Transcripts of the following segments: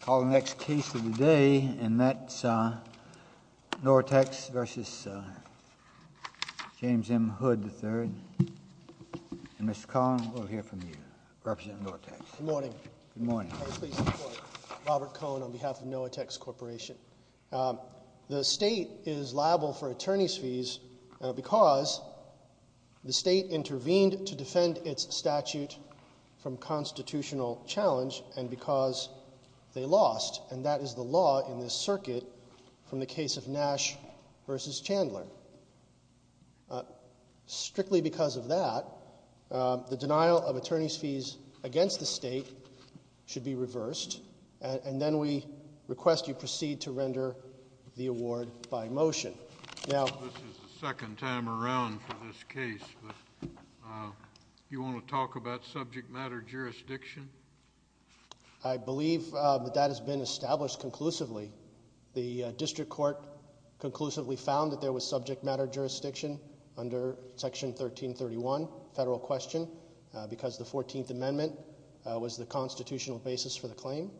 Call the next case of the day, and that's Noatex v. James M. Hood III. Mr. Cohn, we'll hear from you, representing Noatex. Good morning. Good morning. May I please report, Robert Cohn on behalf of Noatex Corporation. The state is liable for attorney's fees because the state intervened to defend its statute from constitutional challenge and because they lost, and that is the law in this circuit from the case of Nash v. Chandler. Strictly because of that, the denial of attorney's fees against the state should be reversed, and then we request you proceed to render the award by motion. This is the second time around for this case. Do you want to talk about subject matter jurisdiction? I believe that that has been established conclusively. The district court conclusively found that there was subject matter jurisdiction under Section 1331, federal question, because the 14th Amendment was the constitutional basis for the claim,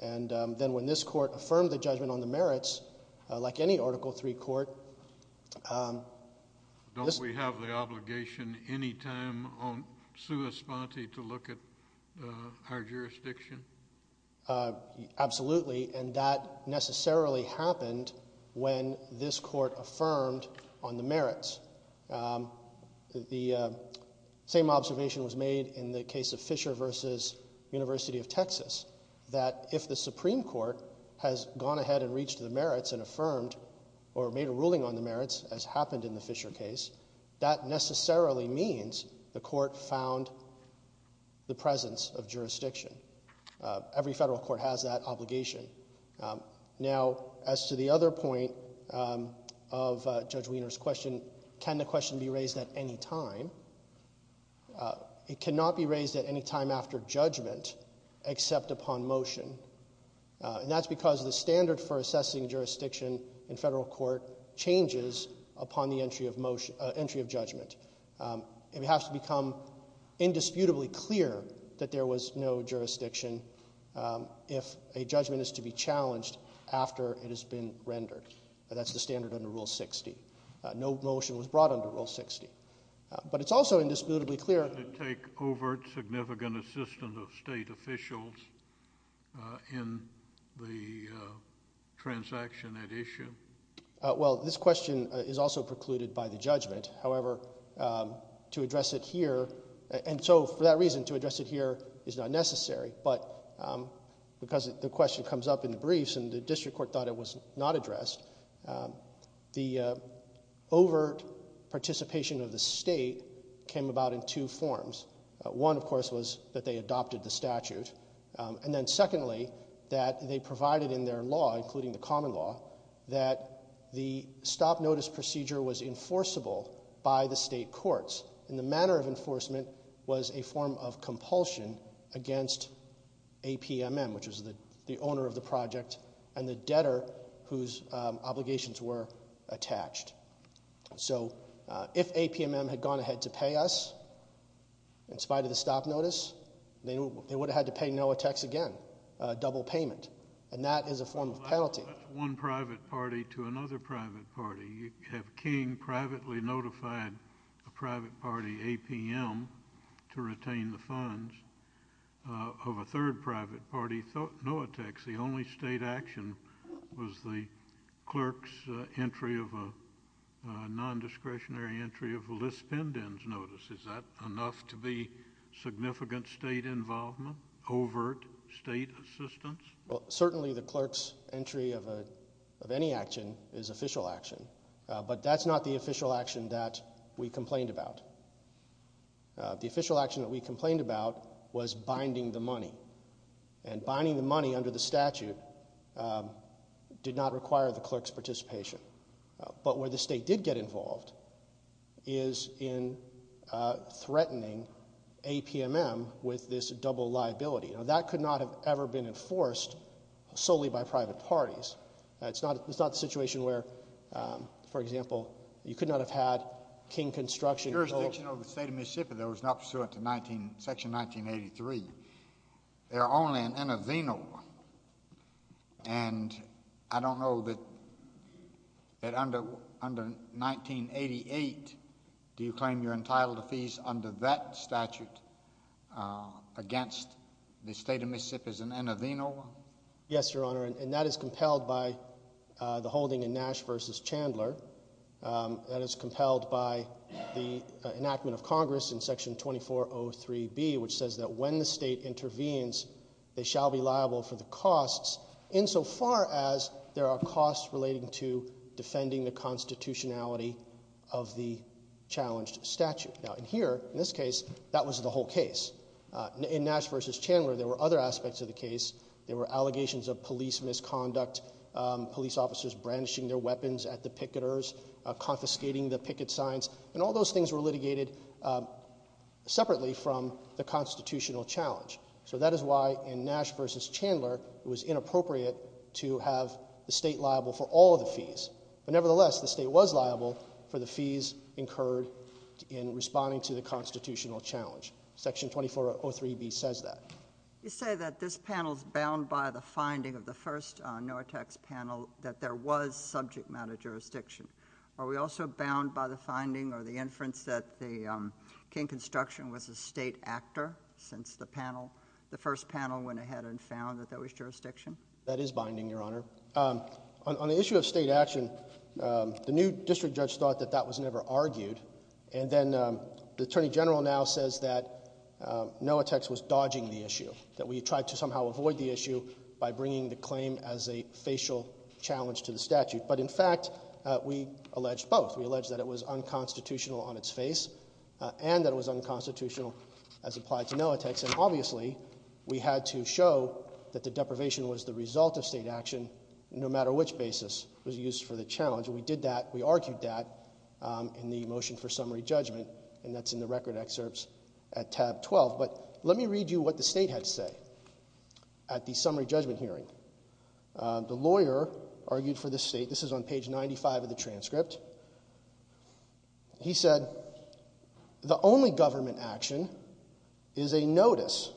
and then when this court affirmed the judgment on the merits, like any Article III court. Don't we have the obligation any time on sua sponte to look at our jurisdiction? Absolutely, and that necessarily happened when this court affirmed on the merits. The same observation was made in the case of Fisher v. University of Texas, that if the Supreme Court has gone ahead and reached the merits and affirmed or made a ruling on the merits, as happened in the Fisher case, that necessarily means the court found the presence of jurisdiction. Every federal court has that obligation. Now, as to the other point of Judge Wiener's question, can the question be raised at any time? It cannot be raised at any time after judgment except upon motion, and that's because the standard for assessing jurisdiction in federal court changes upon the entry of judgment. It has to become indisputably clear that there was no jurisdiction if a judgment is to be challenged after it has been rendered. That's the standard under Rule 60. No motion was brought under Rule 60, but it's also indisputably clear— Did it take overt significant assistance of state officials in the transaction at issue? Well, this question is also precluded by the judgment. However, to address it here—and so for that reason, to address it here is not necessary, but because the question comes up in the briefs and the district court thought it was not addressed, the overt participation of the state came about in two forms. One, of course, was that they adopted the statute, and then secondly, that they provided in their law, including the common law, that the stop notice procedure was enforceable by the state courts, and the manner of enforcement was a form of compulsion against APMM, which was the owner of the project and the debtor whose obligations were attached. So if APMM had gone ahead to pay us in spite of the stop notice, they would have had to pay NOAA tax again, a double payment, and that is a form of penalty. One private party to another private party. You have King privately notified a private party, APMM, to retain the funds. Of a third private party, NOAA tax, the only state action was the clerk's entry of a nondiscretionary entry of a lispendence notice. Is that enough to be significant state involvement, overt state assistance? Well, certainly the clerk's entry of any action is official action, but that's not the official action that we complained about. The official action that we complained about was binding the money, and binding the money under the statute did not require the clerk's participation. But where the state did get involved is in threatening APMM with this double liability. Now, that could not have ever been enforced solely by private parties. It's not a situation where, for example, you could not have had King construction. The jurisdiction of the state of Mississippi that was not pursuant to Section 1983, there are only in Inovino, and I don't know that under 1988, do you claim you're entitled to fees under that statute against the state of Mississippi as an Inovino? Yes, Your Honor, and that is compelled by the holding in Nash v. Chandler. That is compelled by the enactment of Congress in Section 2403B, which says that when the state intervenes, they shall be liable for the costs, insofar as there are costs relating to defending the constitutionality of the challenged statute. Now, in here, in this case, that was the whole case. In Nash v. Chandler, there were other aspects of the case. There were allegations of police misconduct, police officers brandishing their weapons at the picketers, confiscating the picket signs, and all those things were litigated separately from the constitutional challenge. So that is why in Nash v. Chandler, it was inappropriate to have the state liable for all of the fees. But nevertheless, the state was liable for the fees incurred in responding to the constitutional challenge. Section 2403B says that. You say that this panel is bound by the finding of the first NOAA tax panel that there was subject matter jurisdiction. Are we also bound by the finding or the inference that King Construction was a state actor since the panel? The first panel went ahead and found that there was jurisdiction? That is binding, Your Honor. On the issue of state action, the new district judge thought that that was never argued. And then the attorney general now says that NOAA tax was dodging the issue, that we tried to somehow avoid the issue by bringing the claim as a facial challenge to the statute. But in fact, we alleged both. We alleged that it was unconstitutional on its face and that it was unconstitutional as applied to NOAA tax. And obviously, we had to show that the deprivation was the result of state action no matter which basis was used for the challenge. And we did that. We argued that in the motion for summary judgment, and that's in the record excerpts at tab 12. But let me read you what the state had to say at the summary judgment hearing. The lawyer argued for the state. This is on page 95 of the transcript. He said, the only government action is a notice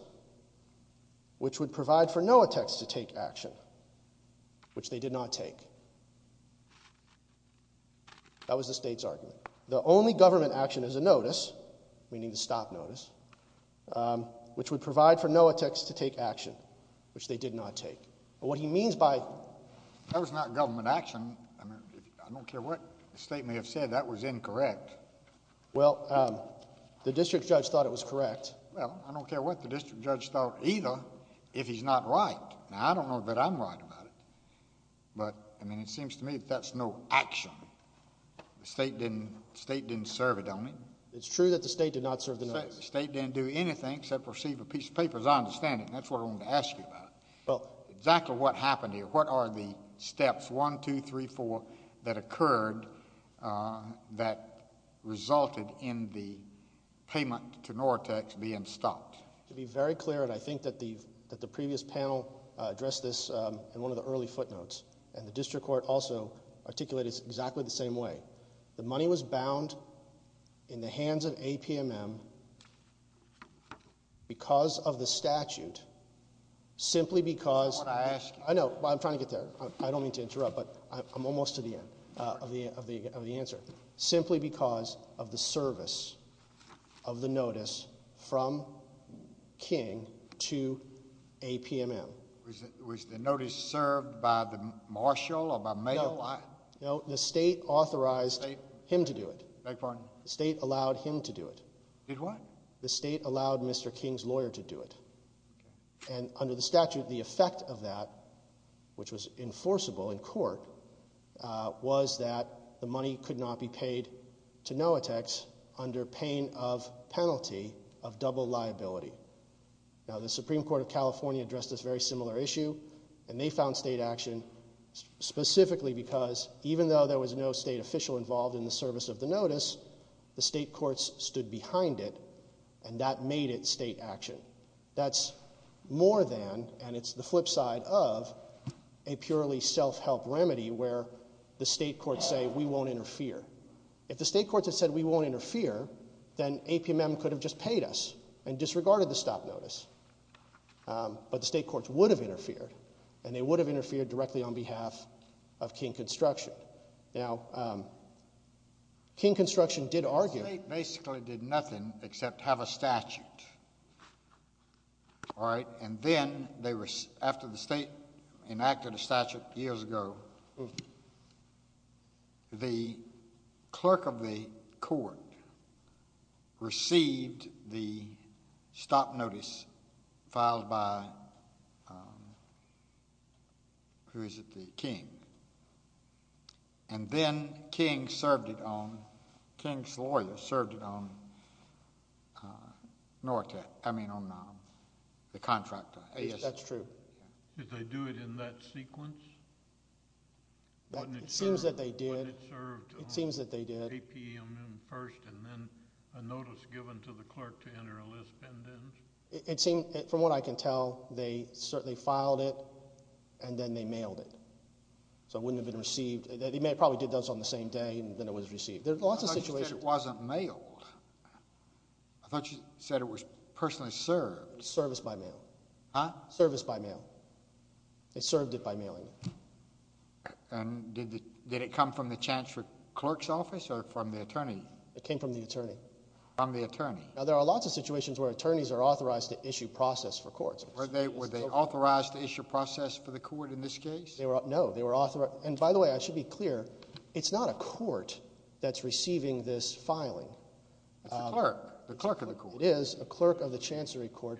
which would provide for NOAA tax to take action, which they did not take. That was the state's argument. The only government action is a notice, meaning the stop notice, which would provide for NOAA tax to take action, which they did not take. That was not government action. I don't care what the state may have said. That was incorrect. Well, the district judge thought it was correct. Well, I don't care what the district judge thought either if he's not right. Now, I don't know that I'm right about it. But, I mean, it seems to me that that's no action. The state didn't serve it on it. It's true that the state did not serve the notice. The state didn't do anything except receive a piece of paper as I understand it, and that's what I wanted to ask you about. Well, exactly what happened here? What are the steps, one, two, three, four, that occurred that resulted in the payment to NOAA tax being stopped? To be very clear, and I think that the previous panel addressed this in one of the early footnotes, and the district court also articulated it exactly the same way. The money was bound in the hands of APMM because of the statute, simply because of the service of the notice from King to APMM. Was the notice served by the marshal or by mayor? No, the state authorized him to do it. The state allowed him to do it. The state allowed Mr. King's lawyer to do it. And under the statute, the effect of that, which was enforceable in court, was that the money could not be paid to NOAA tax under pain of penalty of double liability. Now, the Supreme Court of California addressed this very similar issue, and they found state action specifically because even though there was no state official involved in the service of the notice, the state courts stood behind it, and that made it state action. That's more than, and it's the flip side of, a purely self-help remedy where the state courts say, we won't interfere. If the state courts had said, we won't interfere, then APMM could have just paid us and disregarded the stop notice. But the state courts would have interfered, and they would have interfered directly on behalf of King Construction. Now, King Construction did argue. The state basically did nothing except have a statute. All right, and then they were, after the state enacted a statute years ago, the clerk of the court received the stop notice filed by, who is it, the king. And then King served it on, King's lawyers served it on NORCAT, I mean on the contract. That's true. Did they do it in that sequence? It seems that they did. It seems that they did. APMM first and then a notice given to the clerk to enter a list. It seemed, from what I can tell, they certainly filed it, and then they mailed it. So it wouldn't have been received. They probably did those on the same day, and then it was received. I thought you said it wasn't mailed. I thought you said it was personally served. Service by mail. Huh? Service by mail. They served it by mailing it. And did it come from the chancellor clerk's office or from the attorney? It came from the attorney. From the attorney. Now, there are lots of situations where attorneys are authorized to issue process for courts. Were they authorized to issue process for the court in this case? No. And, by the way, I should be clear, it's not a court that's receiving this filing. It's a clerk. The clerk of the court. It is a clerk of the chancery court.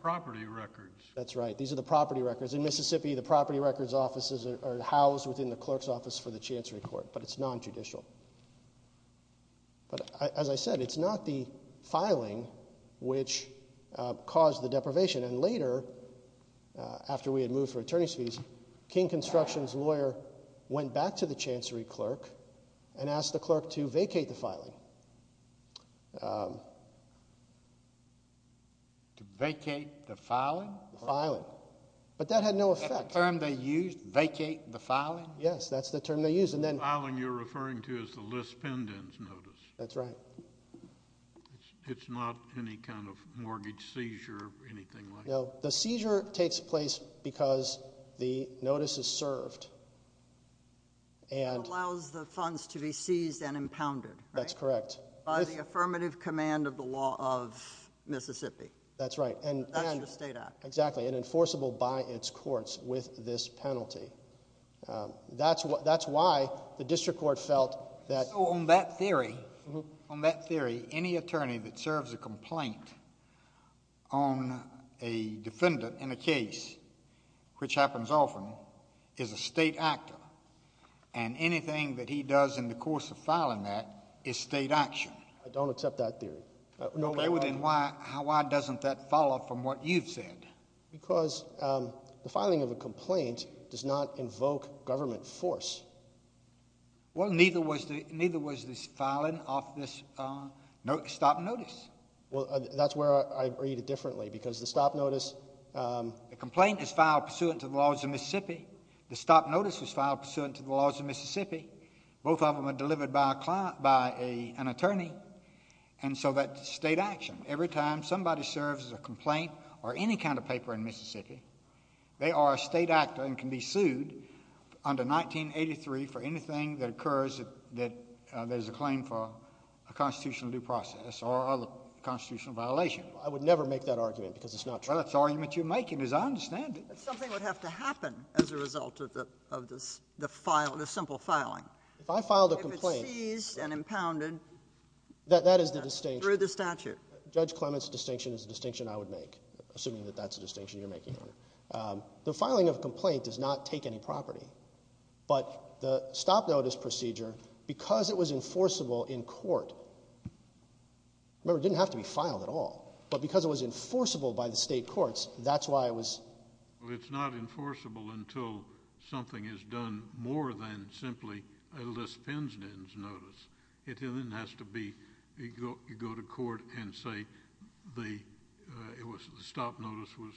Property records. That's right. These are the property records. In Mississippi, the property records offices are housed within the clerk's office for the chancery court, but it's non-judicial. But, as I said, it's not the filing which caused the deprivation. And later, after we had moved for attorney's fees, King Construction's lawyer went back to the chancery clerk and asked the clerk to vacate the filing. To vacate the filing? The filing. But that had no effect. Is that the term they used? Vacate the filing? Yes, that's the term they used. The filing you're referring to is the lispendence notice. That's right. It's not any kind of mortgage seizure or anything like that? No. The seizure takes place because the notice is served. And allows the funds to be seized and impounded. That's correct. By the affirmative command of the law of Mississippi. That's right. That's the state act. Exactly. And enforceable by its courts with this penalty. That's why the district court felt that... So, on that theory, any attorney that serves a complaint on a defendant in a case, which happens often, is a state actor. And anything that he does in the course of filing that is state action. I don't accept that theory. Okay. Then why doesn't that follow from what you've said? Because the filing of a complaint does not invoke government force. Well, neither was the filing of this stop notice. Well, that's where I read it differently. Because the stop notice... The complaint is filed pursuant to the laws of Mississippi. The stop notice was filed pursuant to the laws of Mississippi. Both of them are delivered by an attorney. And so that's state action. Every time somebody serves a complaint or any kind of paper in Mississippi, they are a state actor and can be sued under 1983 for anything that occurs that there's a claim for a constitutional due process or other constitutional violation. I would never make that argument because it's not true. Well, that's the argument you're making, as I understand it. But something would have to happen as a result of the simple filing. If I filed a complaint... If it's seized and impounded... That is the distinction.... through the statute. Judge Clement's distinction is the distinction I would make, assuming that that's the distinction you're making. The filing of a complaint does not take any property. But the stop notice procedure, because it was enforceable in court... Remember, it didn't have to be filed at all. But because it was enforceable by the state courts, that's why it was... Well, it's not enforceable until something is done more than simply a lis pendens notice. It then has to be... you go to court and say the stop notice was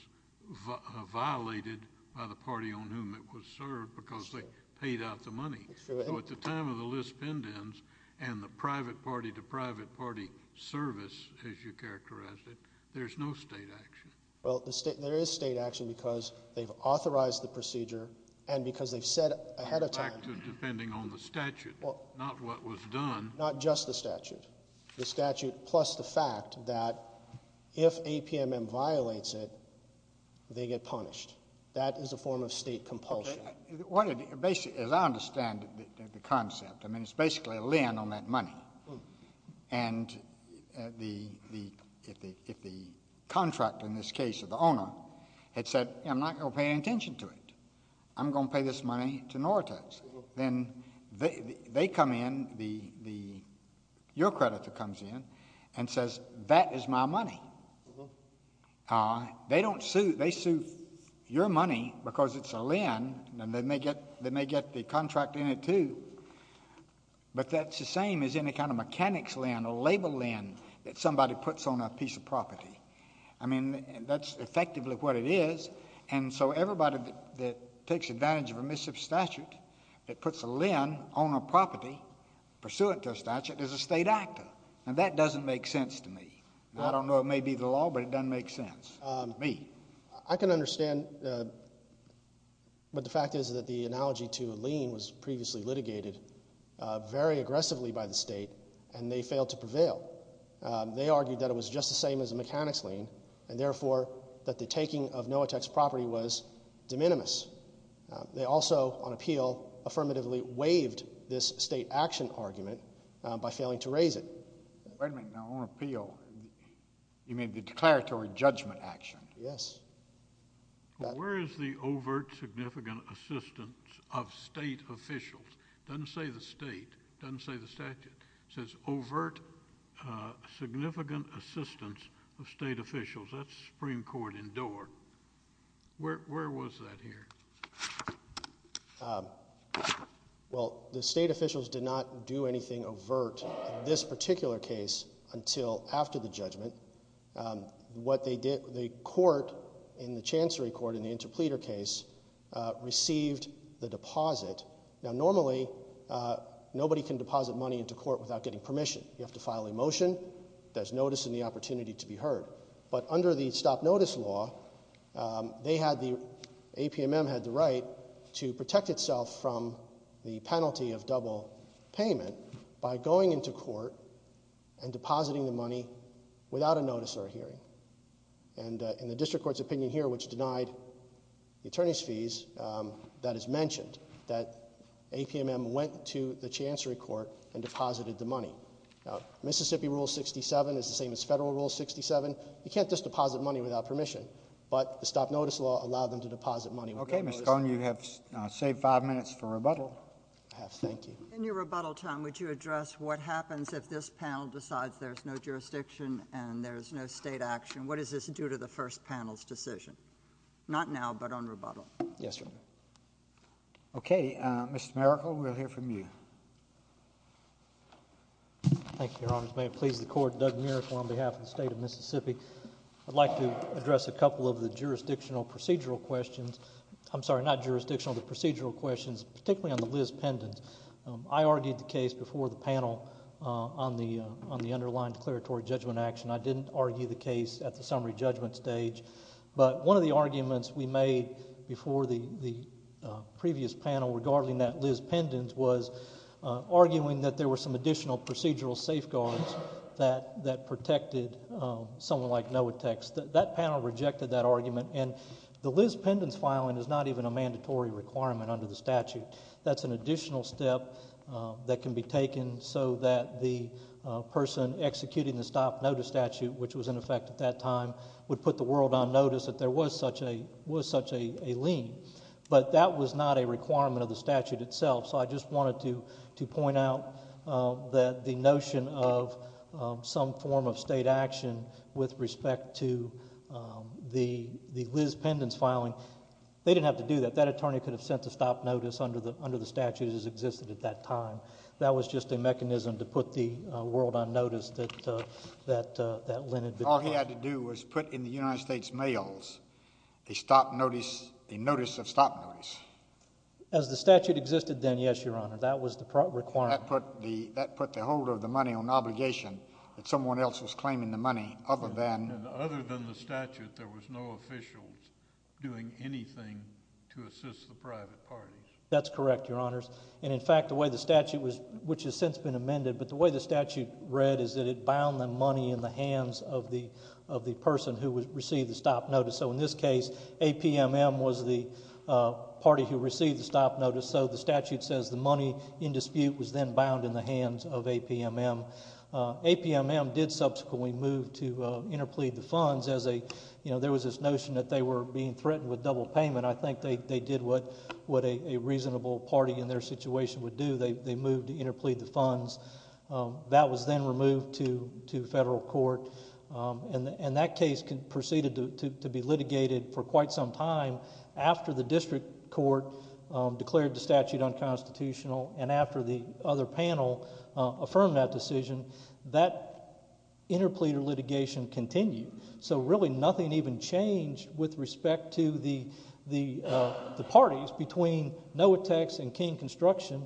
violated by the party on whom it was served because they paid out the money. So, at the time of the lis pendens and the private party to private party service, as you characterized it, there's no state action. Well, there is state action because they've authorized the procedure and because they've said ahead of time... Back to depending on the statute, not what was done. Not just the statute. The statute plus the fact that if APMM violates it, they get punished. That is a form of state compulsion. As I understand the concept, I mean, it's basically a lien on that money. And if the contract, in this case, of the owner, had said, I'm not going to pay any attention to it. I'm going to pay this money to Nortas. Then they come in, your creditor comes in, and says, that is my money. They don't sue. They sue your money because it's a lien. And they may get the contract in it, too. But that's the same as any kind of mechanics lien, a label lien, that somebody puts on a piece of property. I mean, that's effectively what it is. And so, everybody that takes advantage of remissive statute, that puts a lien on a property pursuant to a statute, is a state actor. And that doesn't make sense to me. I don't know it may be the law, but it doesn't make sense to me. I can understand. But the fact is that the analogy to a lien was previously litigated very aggressively by the state, and they failed to prevail. They argued that it was just the same as a mechanics lien, and therefore that the taking of Noatek's property was de minimis. They also, on appeal, affirmatively waived this state action argument by failing to raise it. Wait a minute. Now, on appeal, you mean the declaratory judgment action? Yes. Where is the overt significant assistance of state officials? It doesn't say the state. It doesn't say the statute. It says overt significant assistance of state officials. That's the Supreme Court in Doar. Where was that here? Well, the state officials did not do anything overt. In this particular case, until after the judgment, the court in the chancery court in the interpleader case received the deposit. Now, normally, nobody can deposit money into court without getting permission. You have to file a motion. There's notice and the opportunity to be heard. But under the stop notice law, they had the, APMM had the right to protect itself from the penalty of double payment by going into court and depositing the money without a notice or a hearing. And in the district court's opinion here, which denied the attorney's fees, that is mentioned, that APMM went to the chancery court and deposited the money. Now, Mississippi rule 67 is the same as federal rule 67. You can't just deposit money without permission. But the stop notice law allowed them to deposit money without notice. Okay. Ms. Cohn, you have saved five minutes for rebuttal. I have. Thank you. In your rebuttal time, would you address what happens if this panel decides there's no jurisdiction and there's no state action? What does this do to the first panel's decision? Not now, but on rebuttal. Yes, Your Honor. Okay. Mr. Merical, we'll hear from you. Thank you, Your Honor. May it please the Court. Doug Merical on behalf of the State of Mississippi. I'd like to address a couple of the jurisdictional procedural questions. I'm sorry, not jurisdictional, the procedural questions, particularly on the Liz Pendent. I argued the case before the panel on the underlying declaratory judgment action. I didn't argue the case at the summary judgment stage. But one of the arguments we made before the previous panel regarding that Liz Pendent was arguing that there were some additional procedural safeguards that protected someone like Noatex. That panel rejected that argument, and the Liz Pendent's filing is not even a mandatory requirement under the statute. That's an additional step that can be taken so that the person executing the stop notice statute, which was in effect at that time, would put the world on notice that there was such a lien. But that was not a requirement of the statute itself. So I just wanted to point out that the notion of some form of state action with respect to the Liz Pendent's filing, they didn't have to do that. That attorney could have sent the stop notice under the statute as it existed at that time. That was just a mechanism to put the world on notice that that lien had been filed. All he had to do was put in the United States mails a stop notice, a notice of stop notice. As the statute existed then, yes, Your Honor, that was the requirement. That put the holder of the money on obligation that someone else was claiming the money other than... Other than the statute, there was no officials doing anything to assist the private parties. That's correct, Your Honors. In fact, the way the statute was, which has since been amended, but the way the statute read is that it bound the money in the hands of the person who received the stop notice. So in this case, APMM was the party who received the stop notice. So the statute says the money in dispute was then bound in the hands of APMM. APMM did subsequently move to interplead the funds. There was this notion that they were being threatened with double payment. I think they did what a reasonable party in their situation would do. They moved to interplead the funds. That was then removed to federal court. That case proceeded to be litigated for quite some time after the district court declared the statute unconstitutional and after the other panel affirmed that decision. That interpleader litigation continued. So really nothing even changed with respect to the parties between Noatex and King Construction.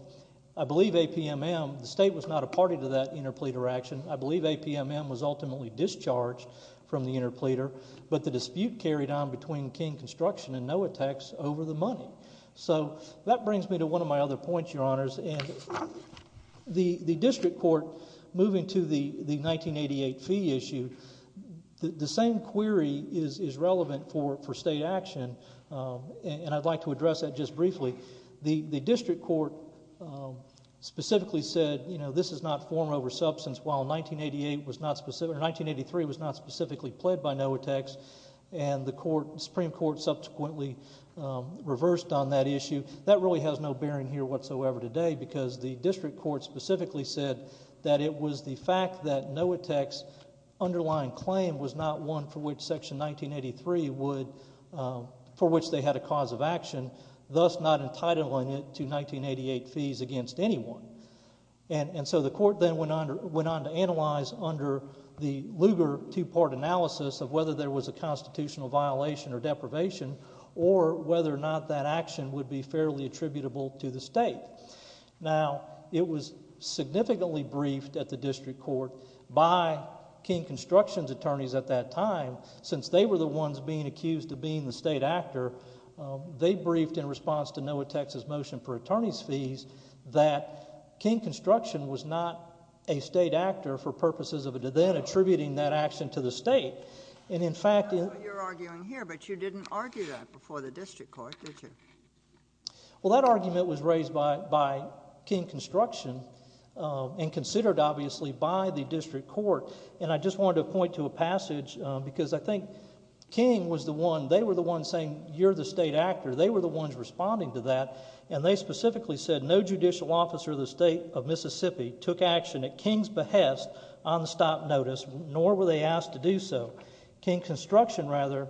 I believe APMM, the state was not a party to that interpleader action. I believe APMM was ultimately discharged from the interpleader, but the dispute carried on between King Construction and Noatex over the money. So that brings me to one of my other points, Your Honors. The district court, moving to the 1988 fee issue, the same query is relevant for state action, and I'd like to address that just briefly. The district court specifically said this is not form over substance, while 1983 was not specifically pled by Noatex, and the Supreme Court subsequently reversed on that issue. That really has no bearing here whatsoever today, because the district court specifically said that it was the fact that Noatex's underlying claim was not one for which Section 1983 would, for which they had a cause of action, thus not entitling it to 1988 fees against anyone. And so the court then went on to analyze under the Lugar two-part analysis of whether there was a constitutional violation or deprivation or whether or not that action would be fairly attributable to the state. Now, it was significantly briefed at the district court by King Construction's attorneys at that time. Since they were the ones being accused of being the state actor, they briefed in response to Noatex's motion for attorney's fees that King Construction was not a state actor for purposes of then attributing that action to the state. I don't know what you're arguing here, but you didn't argue that before the district court, did you? Well, that argument was raised by King Construction and considered, obviously, by the district court. And I just wanted to point to a passage, because I think King was the one, they were the ones saying you're the state actor, they were the ones responding to that, and they specifically said no judicial officer of the state of Mississippi took action at King's behest on the stop notice, nor were they asked to do so. King Construction, rather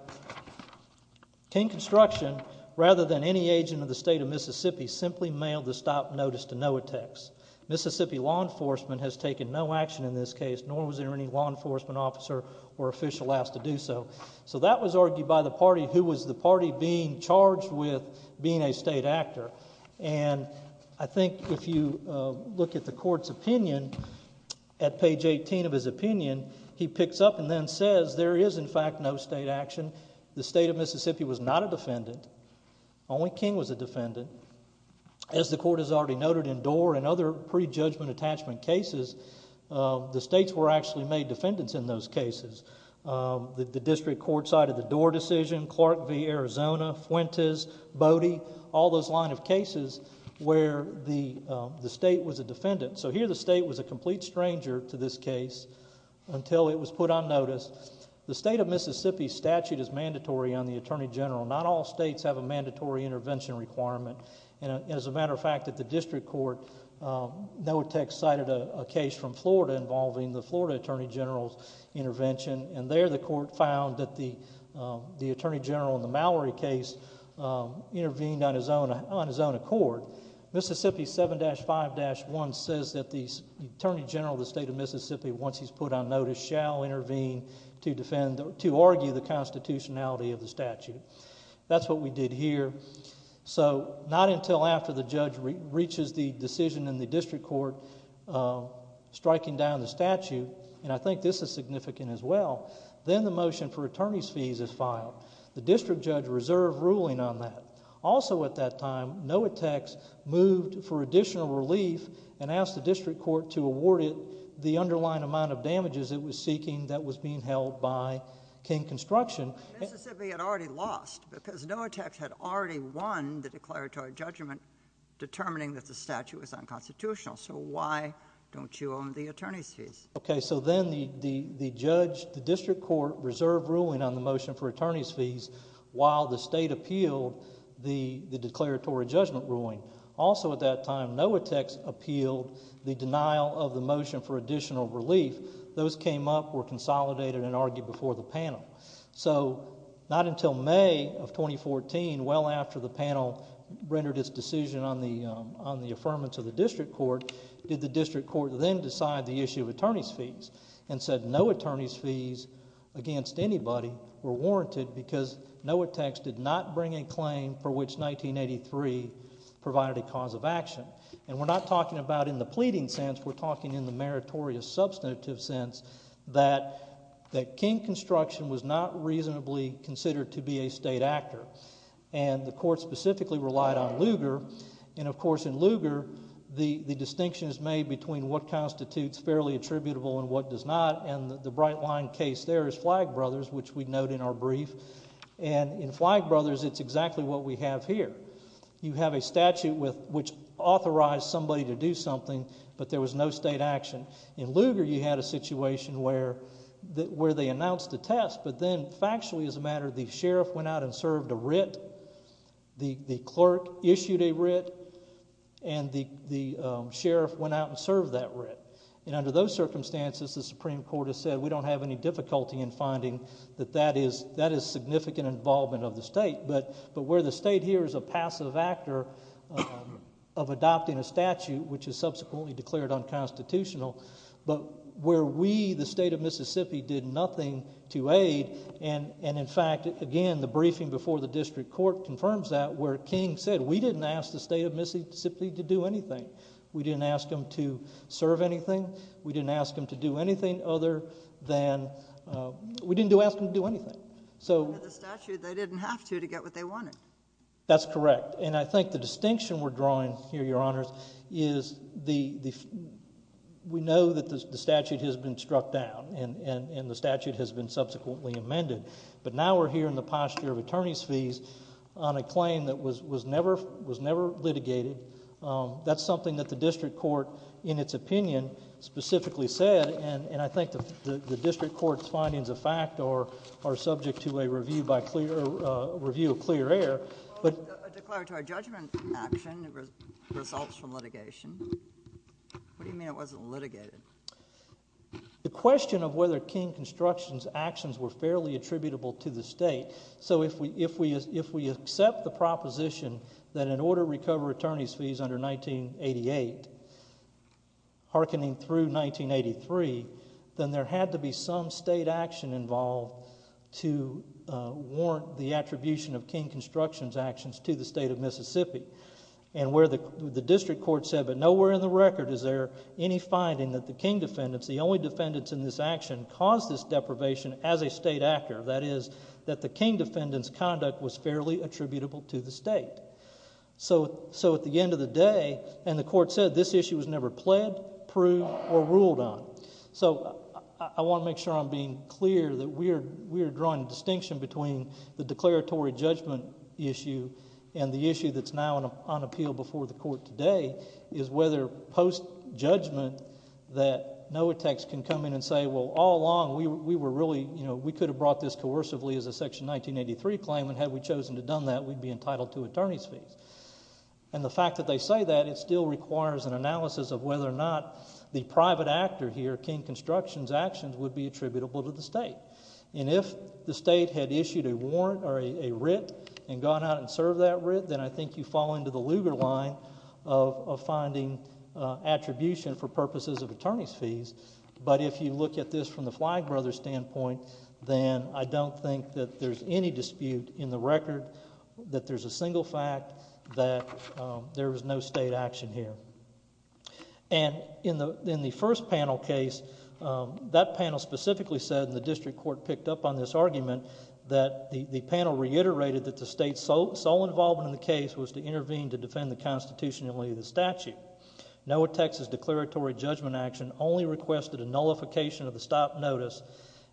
than any agent of the state of Mississippi, simply mailed the stop notice to Noatex. Mississippi law enforcement has taken no action in this case, nor was there any law enforcement officer or official asked to do so. So that was argued by the party who was the party being charged with being a state actor. And I think if you look at the court's opinion, at page 18 of his opinion, he picks up and then says there is, in fact, no state action. The state of Mississippi was not a defendant. Only King was a defendant. As the court has already noted in Doar and other prejudgment attachment cases, the states were actually made defendants in those cases. The district court cited the Doar decision, Clark v. Arizona, Fuentes, Bodie, all those line of cases where the state was a defendant. So here the state was a complete stranger to this case until it was put on notice. The state of Mississippi statute is mandatory on the attorney general. Not all states have a mandatory intervention requirement. And as a matter of fact, at the district court, Noatex cited a case from Florida involving the Florida attorney general's intervention, and there the court found that the attorney general in the Mallory case intervened on his own accord. Mississippi 7-5-1 says that the attorney general of the state of Mississippi, once he's put on notice, shall intervene to argue the constitutionality of the statute. That's what we did here. So not until after the judge reaches the decision in the district court striking down the statute, and I think this is significant as well, then the motion for attorney's fees is filed. The district judge reserved ruling on that. Also at that time, Noatex moved for additional relief and asked the district court to award it the underlying amount of damages it was seeking that was being held by King Construction. Mississippi had already lost because Noatex had already won the declaratory judgment determining that the statute was unconstitutional. So why don't you own the attorney's fees? Okay, so then the district court reserved ruling on the motion for attorney's fees while the state appealed the declaratory judgment ruling. Also at that time, Noatex appealed the denial of the motion for additional relief. Those came up, were consolidated, and argued before the panel. So not until May of 2014, well after the panel rendered its decision on the affirmance of the district court, did the district court then decide the issue of attorney's fees and said no attorney's fees against anybody were warranted because Noatex did not bring a claim for which 1983 provided a cause of action. And we're not talking about in the pleading sense. We're talking in the meritorious substantive sense that King Construction was not reasonably considered to be a state actor, and the court specifically relied on Lugar. And of course in Lugar, the distinction is made between what constitutes fairly attributable and what does not, and the bright line case there is Flagg Brothers, which we note in our brief. And in Flagg Brothers, it's exactly what we have here. You have a statute which authorized somebody to do something, but there was no state action. In Lugar, you had a situation where they announced a test, but then factually as a matter, the sheriff went out and served a writ. The clerk issued a writ, and the sheriff went out and served that writ. And under those circumstances, the Supreme Court has said we don't have any difficulty in finding that that is significant involvement of the state, but where the state here is a passive actor of adopting a statute which is subsequently declared unconstitutional, but where we, the state of Mississippi, did nothing to aid, and in fact, again, the briefing before the district court confirms that, where King said we didn't ask the state of Mississippi to do anything. We didn't ask them to serve anything. We didn't ask them to do anything other than, we didn't ask them to do anything. Under the statute, they didn't have to to get what they wanted. That's correct, and I think the distinction we're drawing here, Your Honors, is we know that the statute has been struck down, and the statute has been subsequently amended, but now we're here in the posture of attorney's fees on a claim that was never litigated. That's something that the district court, in its opinion, specifically said, and I think the district court's findings of fact are subject to a review of clear air. A declaratory judgment action results from litigation. What do you mean it wasn't litigated? The question of whether King Construction's actions were fairly attributable to the state, so if we accept the proposition that an order recover attorney's fees under 1988, hearkening through 1983, then there had to be some state action involved to warrant the attribution of King Construction's actions to the state of Mississippi. The district court said, but nowhere in the record is there any finding that the King defendants, the only defendants in this action, caused this deprivation as a state actor. That is, that the King defendants' conduct was fairly attributable to the state. So at the end of the day, and the court said this issue was never pled, proved, or ruled on. So I want to make sure I'm being clear that we are drawing a distinction between the declaratory judgment issue and the issue that's now on appeal before the court today is whether post-judgment that NOAA techs can come in and say, well, all along we could have brought this coercively as a Section 1983 claim, and had we chosen to have done that, we'd be entitled to attorney's fees. And the fact that they say that, it still requires an analysis of whether or not the private actor here, King Construction's actions, would be attributable to the state. And if the state had issued a warrant or a writ and gone out and served that writ, then I think you fall into the Lugar line of finding attribution for purposes of attorney's fees. But if you look at this from the Flagg brothers' standpoint, then I don't think that there's any dispute in the record that there's a single fact that there was no state action here. And in the first panel case, that panel specifically said, and the district court picked up on this argument, that the panel reiterated that the state's sole involvement in the case was to intervene to defend the Constitution and leave the statute. NOAA Tech's declaratory judgment action only requested a nullification of the stop notice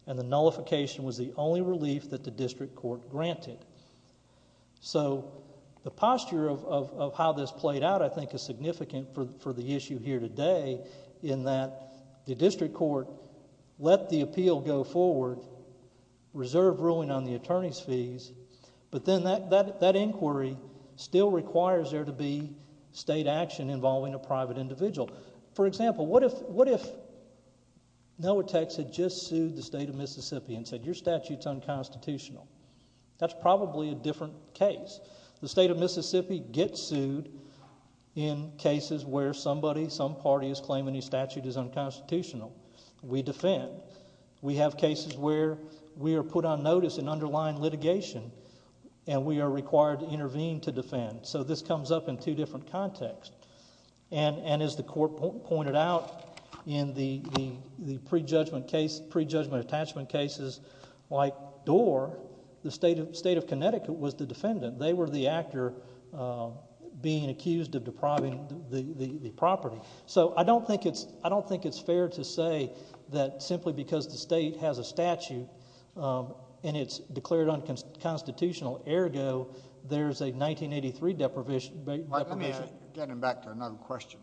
and the nullification was the only relief that the district court granted. So the posture of how this played out, I think, is significant for the issue here today in that the district court let the appeal go forward, reserved ruling on the attorney's fees, but then that inquiry still requires there to be state action involving a private individual. For example, what if NOAA Tech had just sued the state of Mississippi and said your statute's unconstitutional? That's probably a different case. The state of Mississippi gets sued in cases where somebody, some party, is claiming a statute is unconstitutional. We defend. We have cases where we are put on notice in underlying litigation and we are required to intervene to defend. So this comes up in two different contexts. And as the court pointed out in the prejudgment attachment cases like Doar, the state of Connecticut was the defendant. They were the actor being accused of depriving the property. So I don't think it's fair to say that simply because the state has a statute and it's declared unconstitutional, ergo, there's a 1983 deprivation. Let me get him back to another question.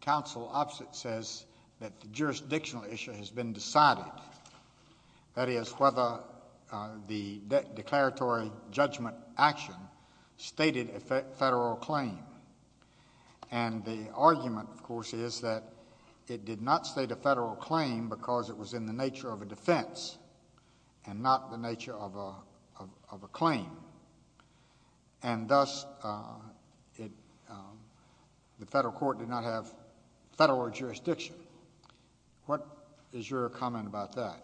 Council opposite says that the jurisdictional issue has been decided. That is, whether the declaratory judgment action stated a federal claim. And the argument, of course, is that it did not state a federal claim because it was in the nature of a defense and not the nature of a claim. And thus, the federal court did not have federal jurisdiction. What is your comment about that?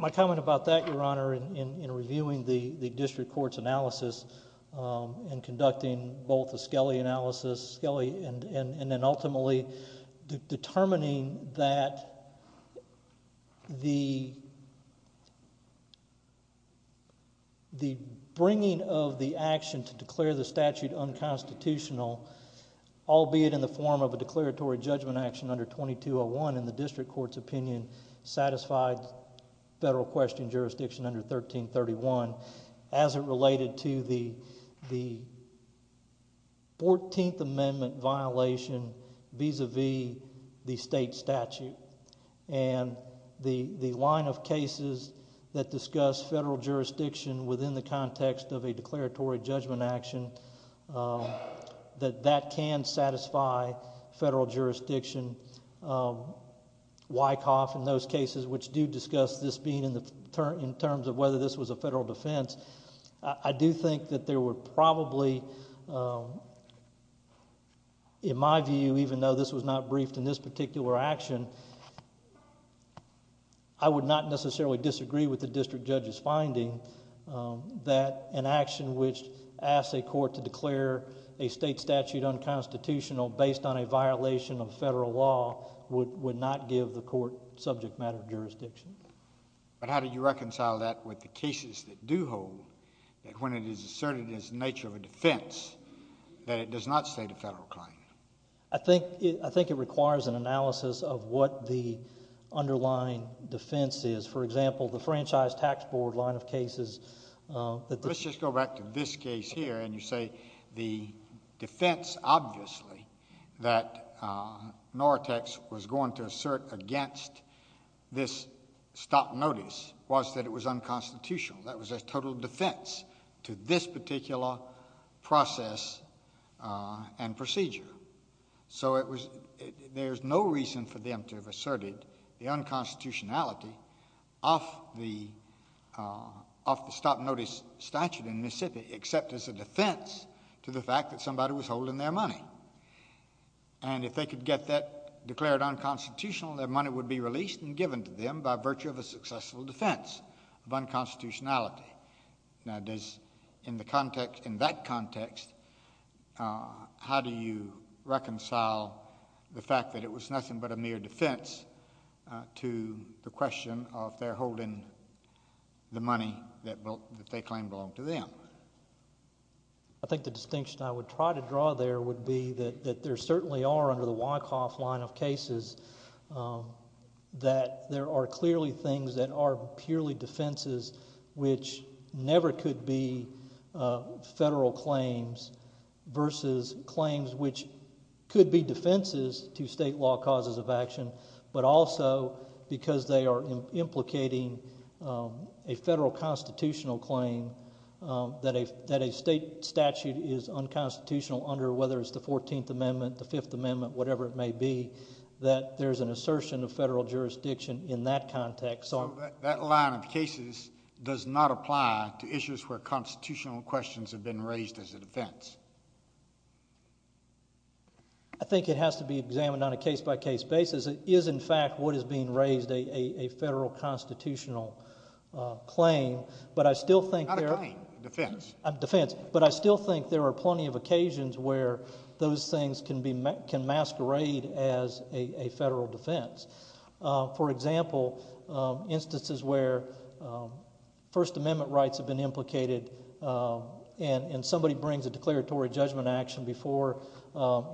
My comment about that, Your Honor, in reviewing the district court's analysis and conducting both the Skelly analysis, and then ultimately determining that the bringing of the action to declare the statute unconstitutional, albeit in the form of a declaratory judgment action under 2201 in the district court's opinion satisfied federal question jurisdiction under 1331 as it related to the 14th Amendment violation vis-a-vis the state statute. And the line of cases that discuss federal jurisdiction within the context of a declaratory judgment action, that that can satisfy federal jurisdiction. Wyckoff and those cases which do discuss this being in terms of whether this was a federal defense, I do think that there were probably... in my view, even though this was not briefed in this particular action, I would not necessarily disagree with the district judge's finding that an action which asks a court to declare a state statute unconstitutional based on a violation of federal law would not give the court subject matter jurisdiction. But how do you reconcile that with the cases that do hold that when it is asserted as the nature of a defense, that it does not state a federal claim? I think it requires an analysis of what the underlying defense is. For example, the Franchise Tax Board line of cases... Let's just go back to this case here, and you say the defense, obviously, that Nortex was going to assert against this stop notice was that it was unconstitutional. That was a total defense to this particular process and procedure. So there's no reason for them to have asserted the unconstitutionality of the stop notice statute in Mississippi except as a defense to the fact that somebody was holding their money. And if they could get that declared unconstitutional, their money would be released and given to them by virtue of a successful defense of unconstitutionality. Now, in that context, how do you reconcile the fact that it was nothing but a mere defense to the question of their holding the money that they claimed belonged to them? I think the distinction I would try to draw there would be that there certainly are, under the Wyckoff line of cases, that there are clearly things that are purely defenses which never could be federal claims versus claims which could be defenses to state law causes of action, but also because they are implicating a federal constitutional claim that a state statute is unconstitutional under whether it's the Fourteenth Amendment, the Fifth Amendment, whatever it may be, that there's an assertion of federal jurisdiction in that context. So that line of cases does not apply to issues where constitutional questions have been raised as a defense? I think it has to be examined on a case-by-case basis. It is, in fact, what is being raised, a federal constitutional claim, but I still think there are plenty of occasions where those things can masquerade as a federal defense. For example, instances where First Amendment rights have been implicated and somebody brings a declaratory judgment action before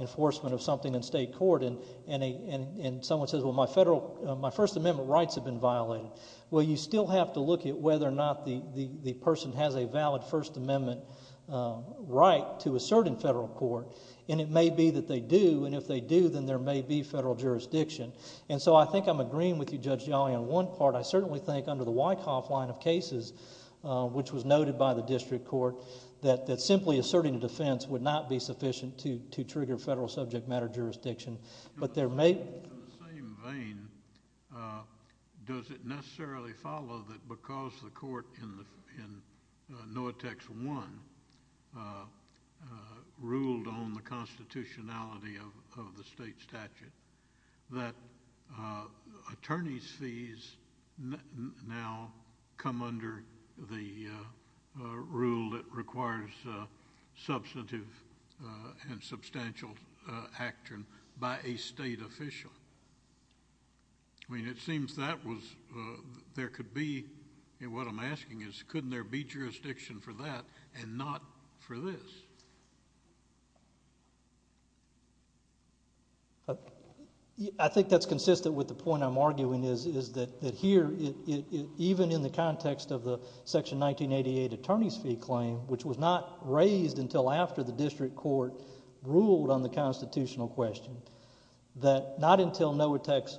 enforcement of something in state court and someone says, well, my First Amendment rights have been violated. Well, you still have to look at whether or not the person has a valid First Amendment right to assert in federal court, and it may be that they do, and if they do then there may be federal jurisdiction. And so I think I'm agreeing with you, Judge Jolly, on one part. I certainly think under the Wyckoff line of cases, which was noted by the district court, that simply asserting a defense would not be sufficient to trigger federal subject matter jurisdiction. In the same vein, does it necessarily follow that because the court in Noethex I ruled on the constitutionality of the state statute that attorney's fees now come under the rule that requires substantive and substantial action by a state official? I mean, it seems that there could be, and what I'm asking is, couldn't there be jurisdiction for that and not for this? I think that's consistent with the point I'm arguing is that here, even in the context of the Section 1988 attorney's fee claim, which was not raised until after the district court ruled on the constitutional question, that not until Noethex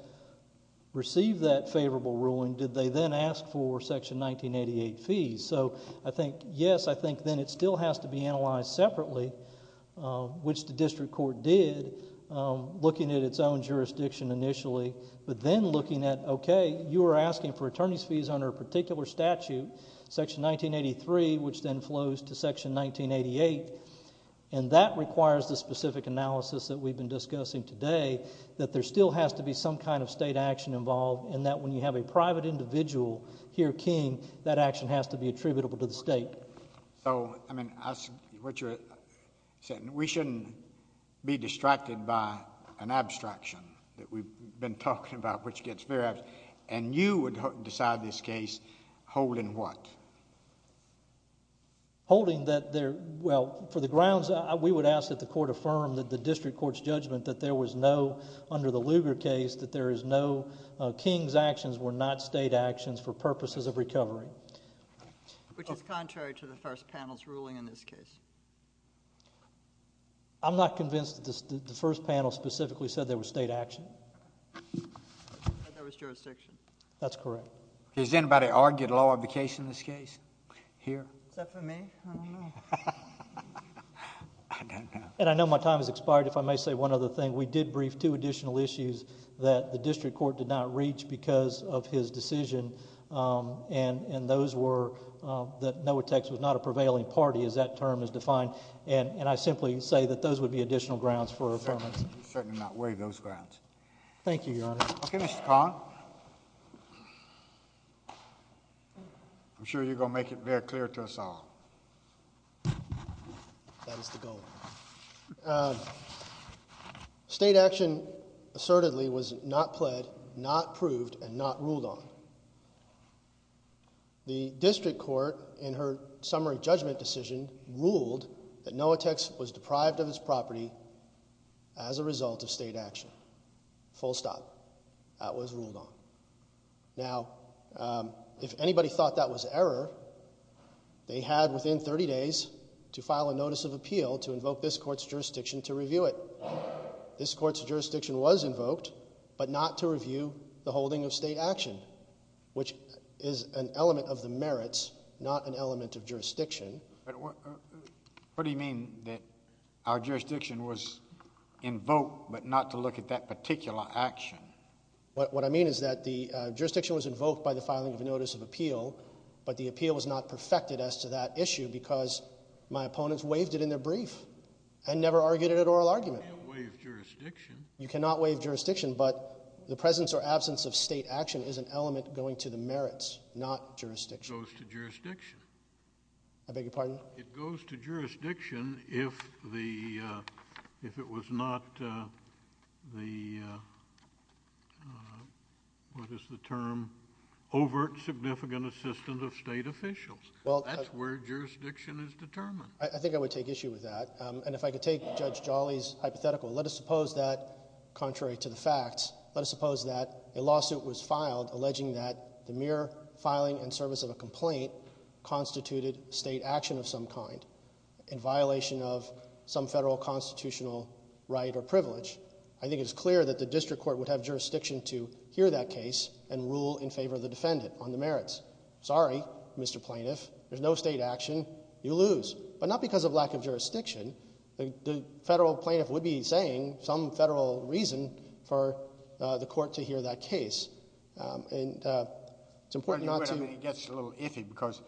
received that favorable ruling did they then ask for Section 1988 fees. So I think, yes, I think then it still has to be analyzed separately, which the district court did, looking at its own jurisdiction initially, but then looking at, okay, you were asking for attorney's fees under a particular statute, Section 1983, which then flows to Section 1988, and that requires the specific analysis that we've been discussing today, that there still has to be some kind of state action involved, and that when you have a private individual here king, that action has to be attributable to the state. So, I mean, what you're saying, we shouldn't be distracted by an abstraction that we've been talking about, which gets very abstract, and you would decide this case holding what? Holding that there, well, for the grounds, we would ask that the court affirm that the district court's judgment that there was no, under the Lugar case, that there is no king's actions were not state actions for purposes of recovery. Which is contrary to the first panel's ruling in this case. I'm not convinced that the first panel specifically said there was state action. That there was jurisdiction. That's correct. Has anybody argued a law of the case in this case here? Except for me. I don't know. I don't know. And I know my time has expired, if I may say one other thing. We did brief two additional issues that the district court did not reach because of his decision, and those were that NOAA Techs was not a prevailing party, as that term is defined, and I simply say that those would be additional grounds for affirmation. Certainly not waive those grounds. Thank you, Your Honor. Okay, Mr. Kahn. I'm sure you're going to make it very clear to us all. That is the goal. State action assertedly was not pled, not proved, and not ruled on. The district court, in her summary judgment decision, ruled that NOAA Techs was deprived of its property as a result of state action. Full stop. That was ruled on. Now, if anybody thought that was error, they had within 30 days to file a notice of appeal to invoke this court's jurisdiction to review it. This court's jurisdiction was invoked, but not to review the holding of state action, which is an element of the merits, not an element of jurisdiction. What do you mean that our jurisdiction was invoked, but not to look at that particular action? What I mean is that the jurisdiction was invoked by the filing of a notice of appeal, but the appeal was not perfected as to that issue because my opponents waived it in their brief and never argued it at oral argument. You can't waive jurisdiction. You cannot waive jurisdiction, but the presence or absence of state action is an element going to the merits, not jurisdiction. It goes to jurisdiction. I beg your pardon? It goes to jurisdiction if it was not the, what is the term, overt significant assistant of state officials. That's where jurisdiction is determined. I think I would take issue with that. And if I could take Judge Jolly's hypothetical, let us suppose that, contrary to the facts, let us suppose that a lawsuit was filed alleging that the mere filing and service of a complaint constituted state action of some kind in violation of some federal constitutional right or privilege. I think it's clear that the district court would have jurisdiction to hear that case and rule in favor of the defendant on the merits. Sorry, Mr. Plaintiff. There's no state action. You lose. But not because of lack of jurisdiction. The federal plaintiff would be saying some federal reason for the court to hear that case. And it's important not to... Because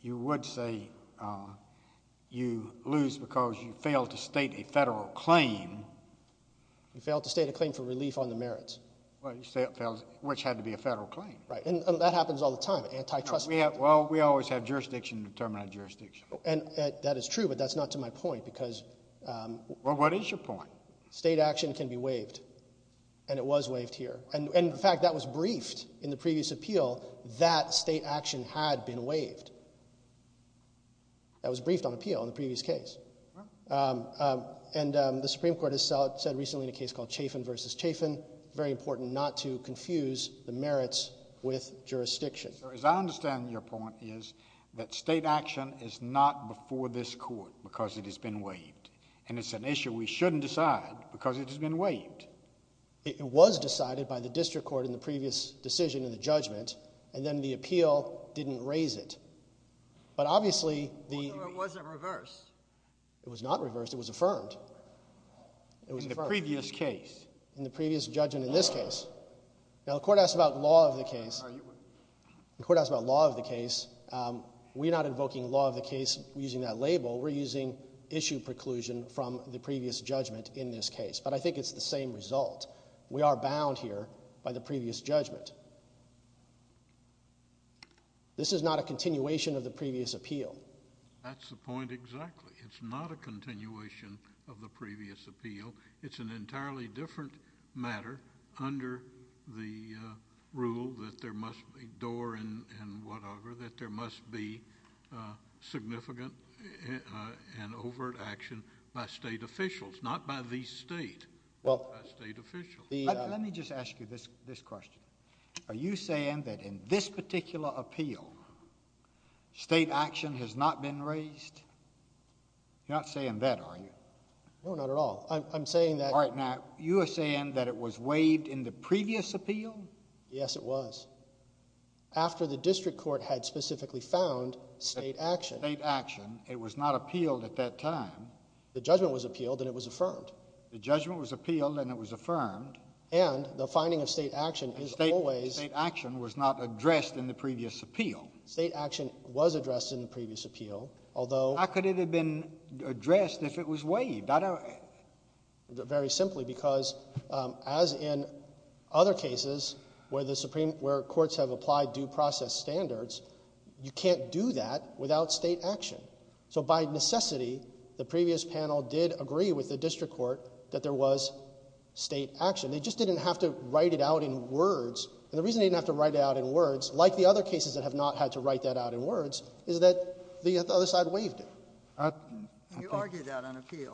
you would say you lose because you failed to state a federal claim. You failed to state a claim for relief on the merits. Which had to be a federal claim. Right, and that happens all the time, antitrust... Well, we always have jurisdiction to determine our jurisdiction. And that is true, but that's not to my point, because... Well, what is your point? State action can be waived, and it was waived here. And, in fact, that was briefed in the previous appeal that state action had been waived. That was briefed on appeal in the previous case. And the Supreme Court has said recently in a case called Chafin v. Chafin, very important not to confuse the merits with jurisdiction. As I understand your point is that state action is not before this court because it has been waived. And it's an issue we shouldn't decide because it has been waived. It was decided by the district court in the previous decision in the judgment, and then the appeal didn't raise it. But, obviously, the... Although it wasn't reversed. It was not reversed. It was affirmed. In the previous case. In the previous judgment in this case. Now, the court asked about law of the case. The court asked about law of the case. We're not invoking law of the case using that label. We're using issue preclusion from the previous judgment in this case. But I think it's the same result. We are bound here by the previous judgment. This is not a continuation of the previous appeal. That's the point exactly. It's not a continuation of the previous appeal. It's an entirely different matter under the rule that there must be door and whatever, that there must be significant and overt action by state officials, not by the state. Let me just ask you this question. Are you saying that in this particular appeal, state action has not been raised? You're not saying that, are you? No, not at all. I'm saying that... All right, now, you are saying that it was waived in the previous appeal? Yes, it was. After the district court had specifically found state action. State action. It was not appealed at that time. The judgment was appealed, and it was affirmed. The judgment was appealed, and it was affirmed. And the finding of state action is always... State action was not addressed in the previous appeal. State action was addressed in the previous appeal, although... How could it have been addressed if it was waived? Very simply, because as in other cases where courts have applied due process standards, you can't do that without state action. So by necessity, the previous panel did agree with the district court that there was state action. They just didn't have to write it out in words. And the reason they didn't have to write it out in words, like the other cases that have not had to write that out in words, is that the other side waived it. You argued that on appeal.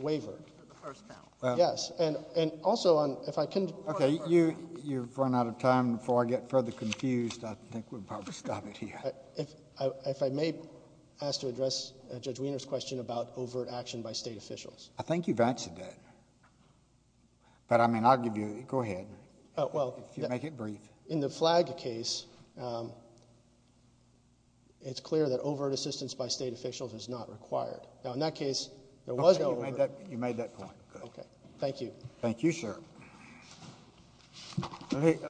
Waivered. For the first panel. Yes. And also, if I can... Okay, you've run out of time. Before I get further confused, I think we'll probably stop it here. If I may ask to address Judge Wiener's question about overt action by state officials. I think you've answered that. But, I mean, I'll give you... Go ahead. Make it brief. In the Flagg case, it's clear that overt assistance by state officials is not required. Now, in that case, there was no... You made that point. Okay. Thank you. Thank you, sir.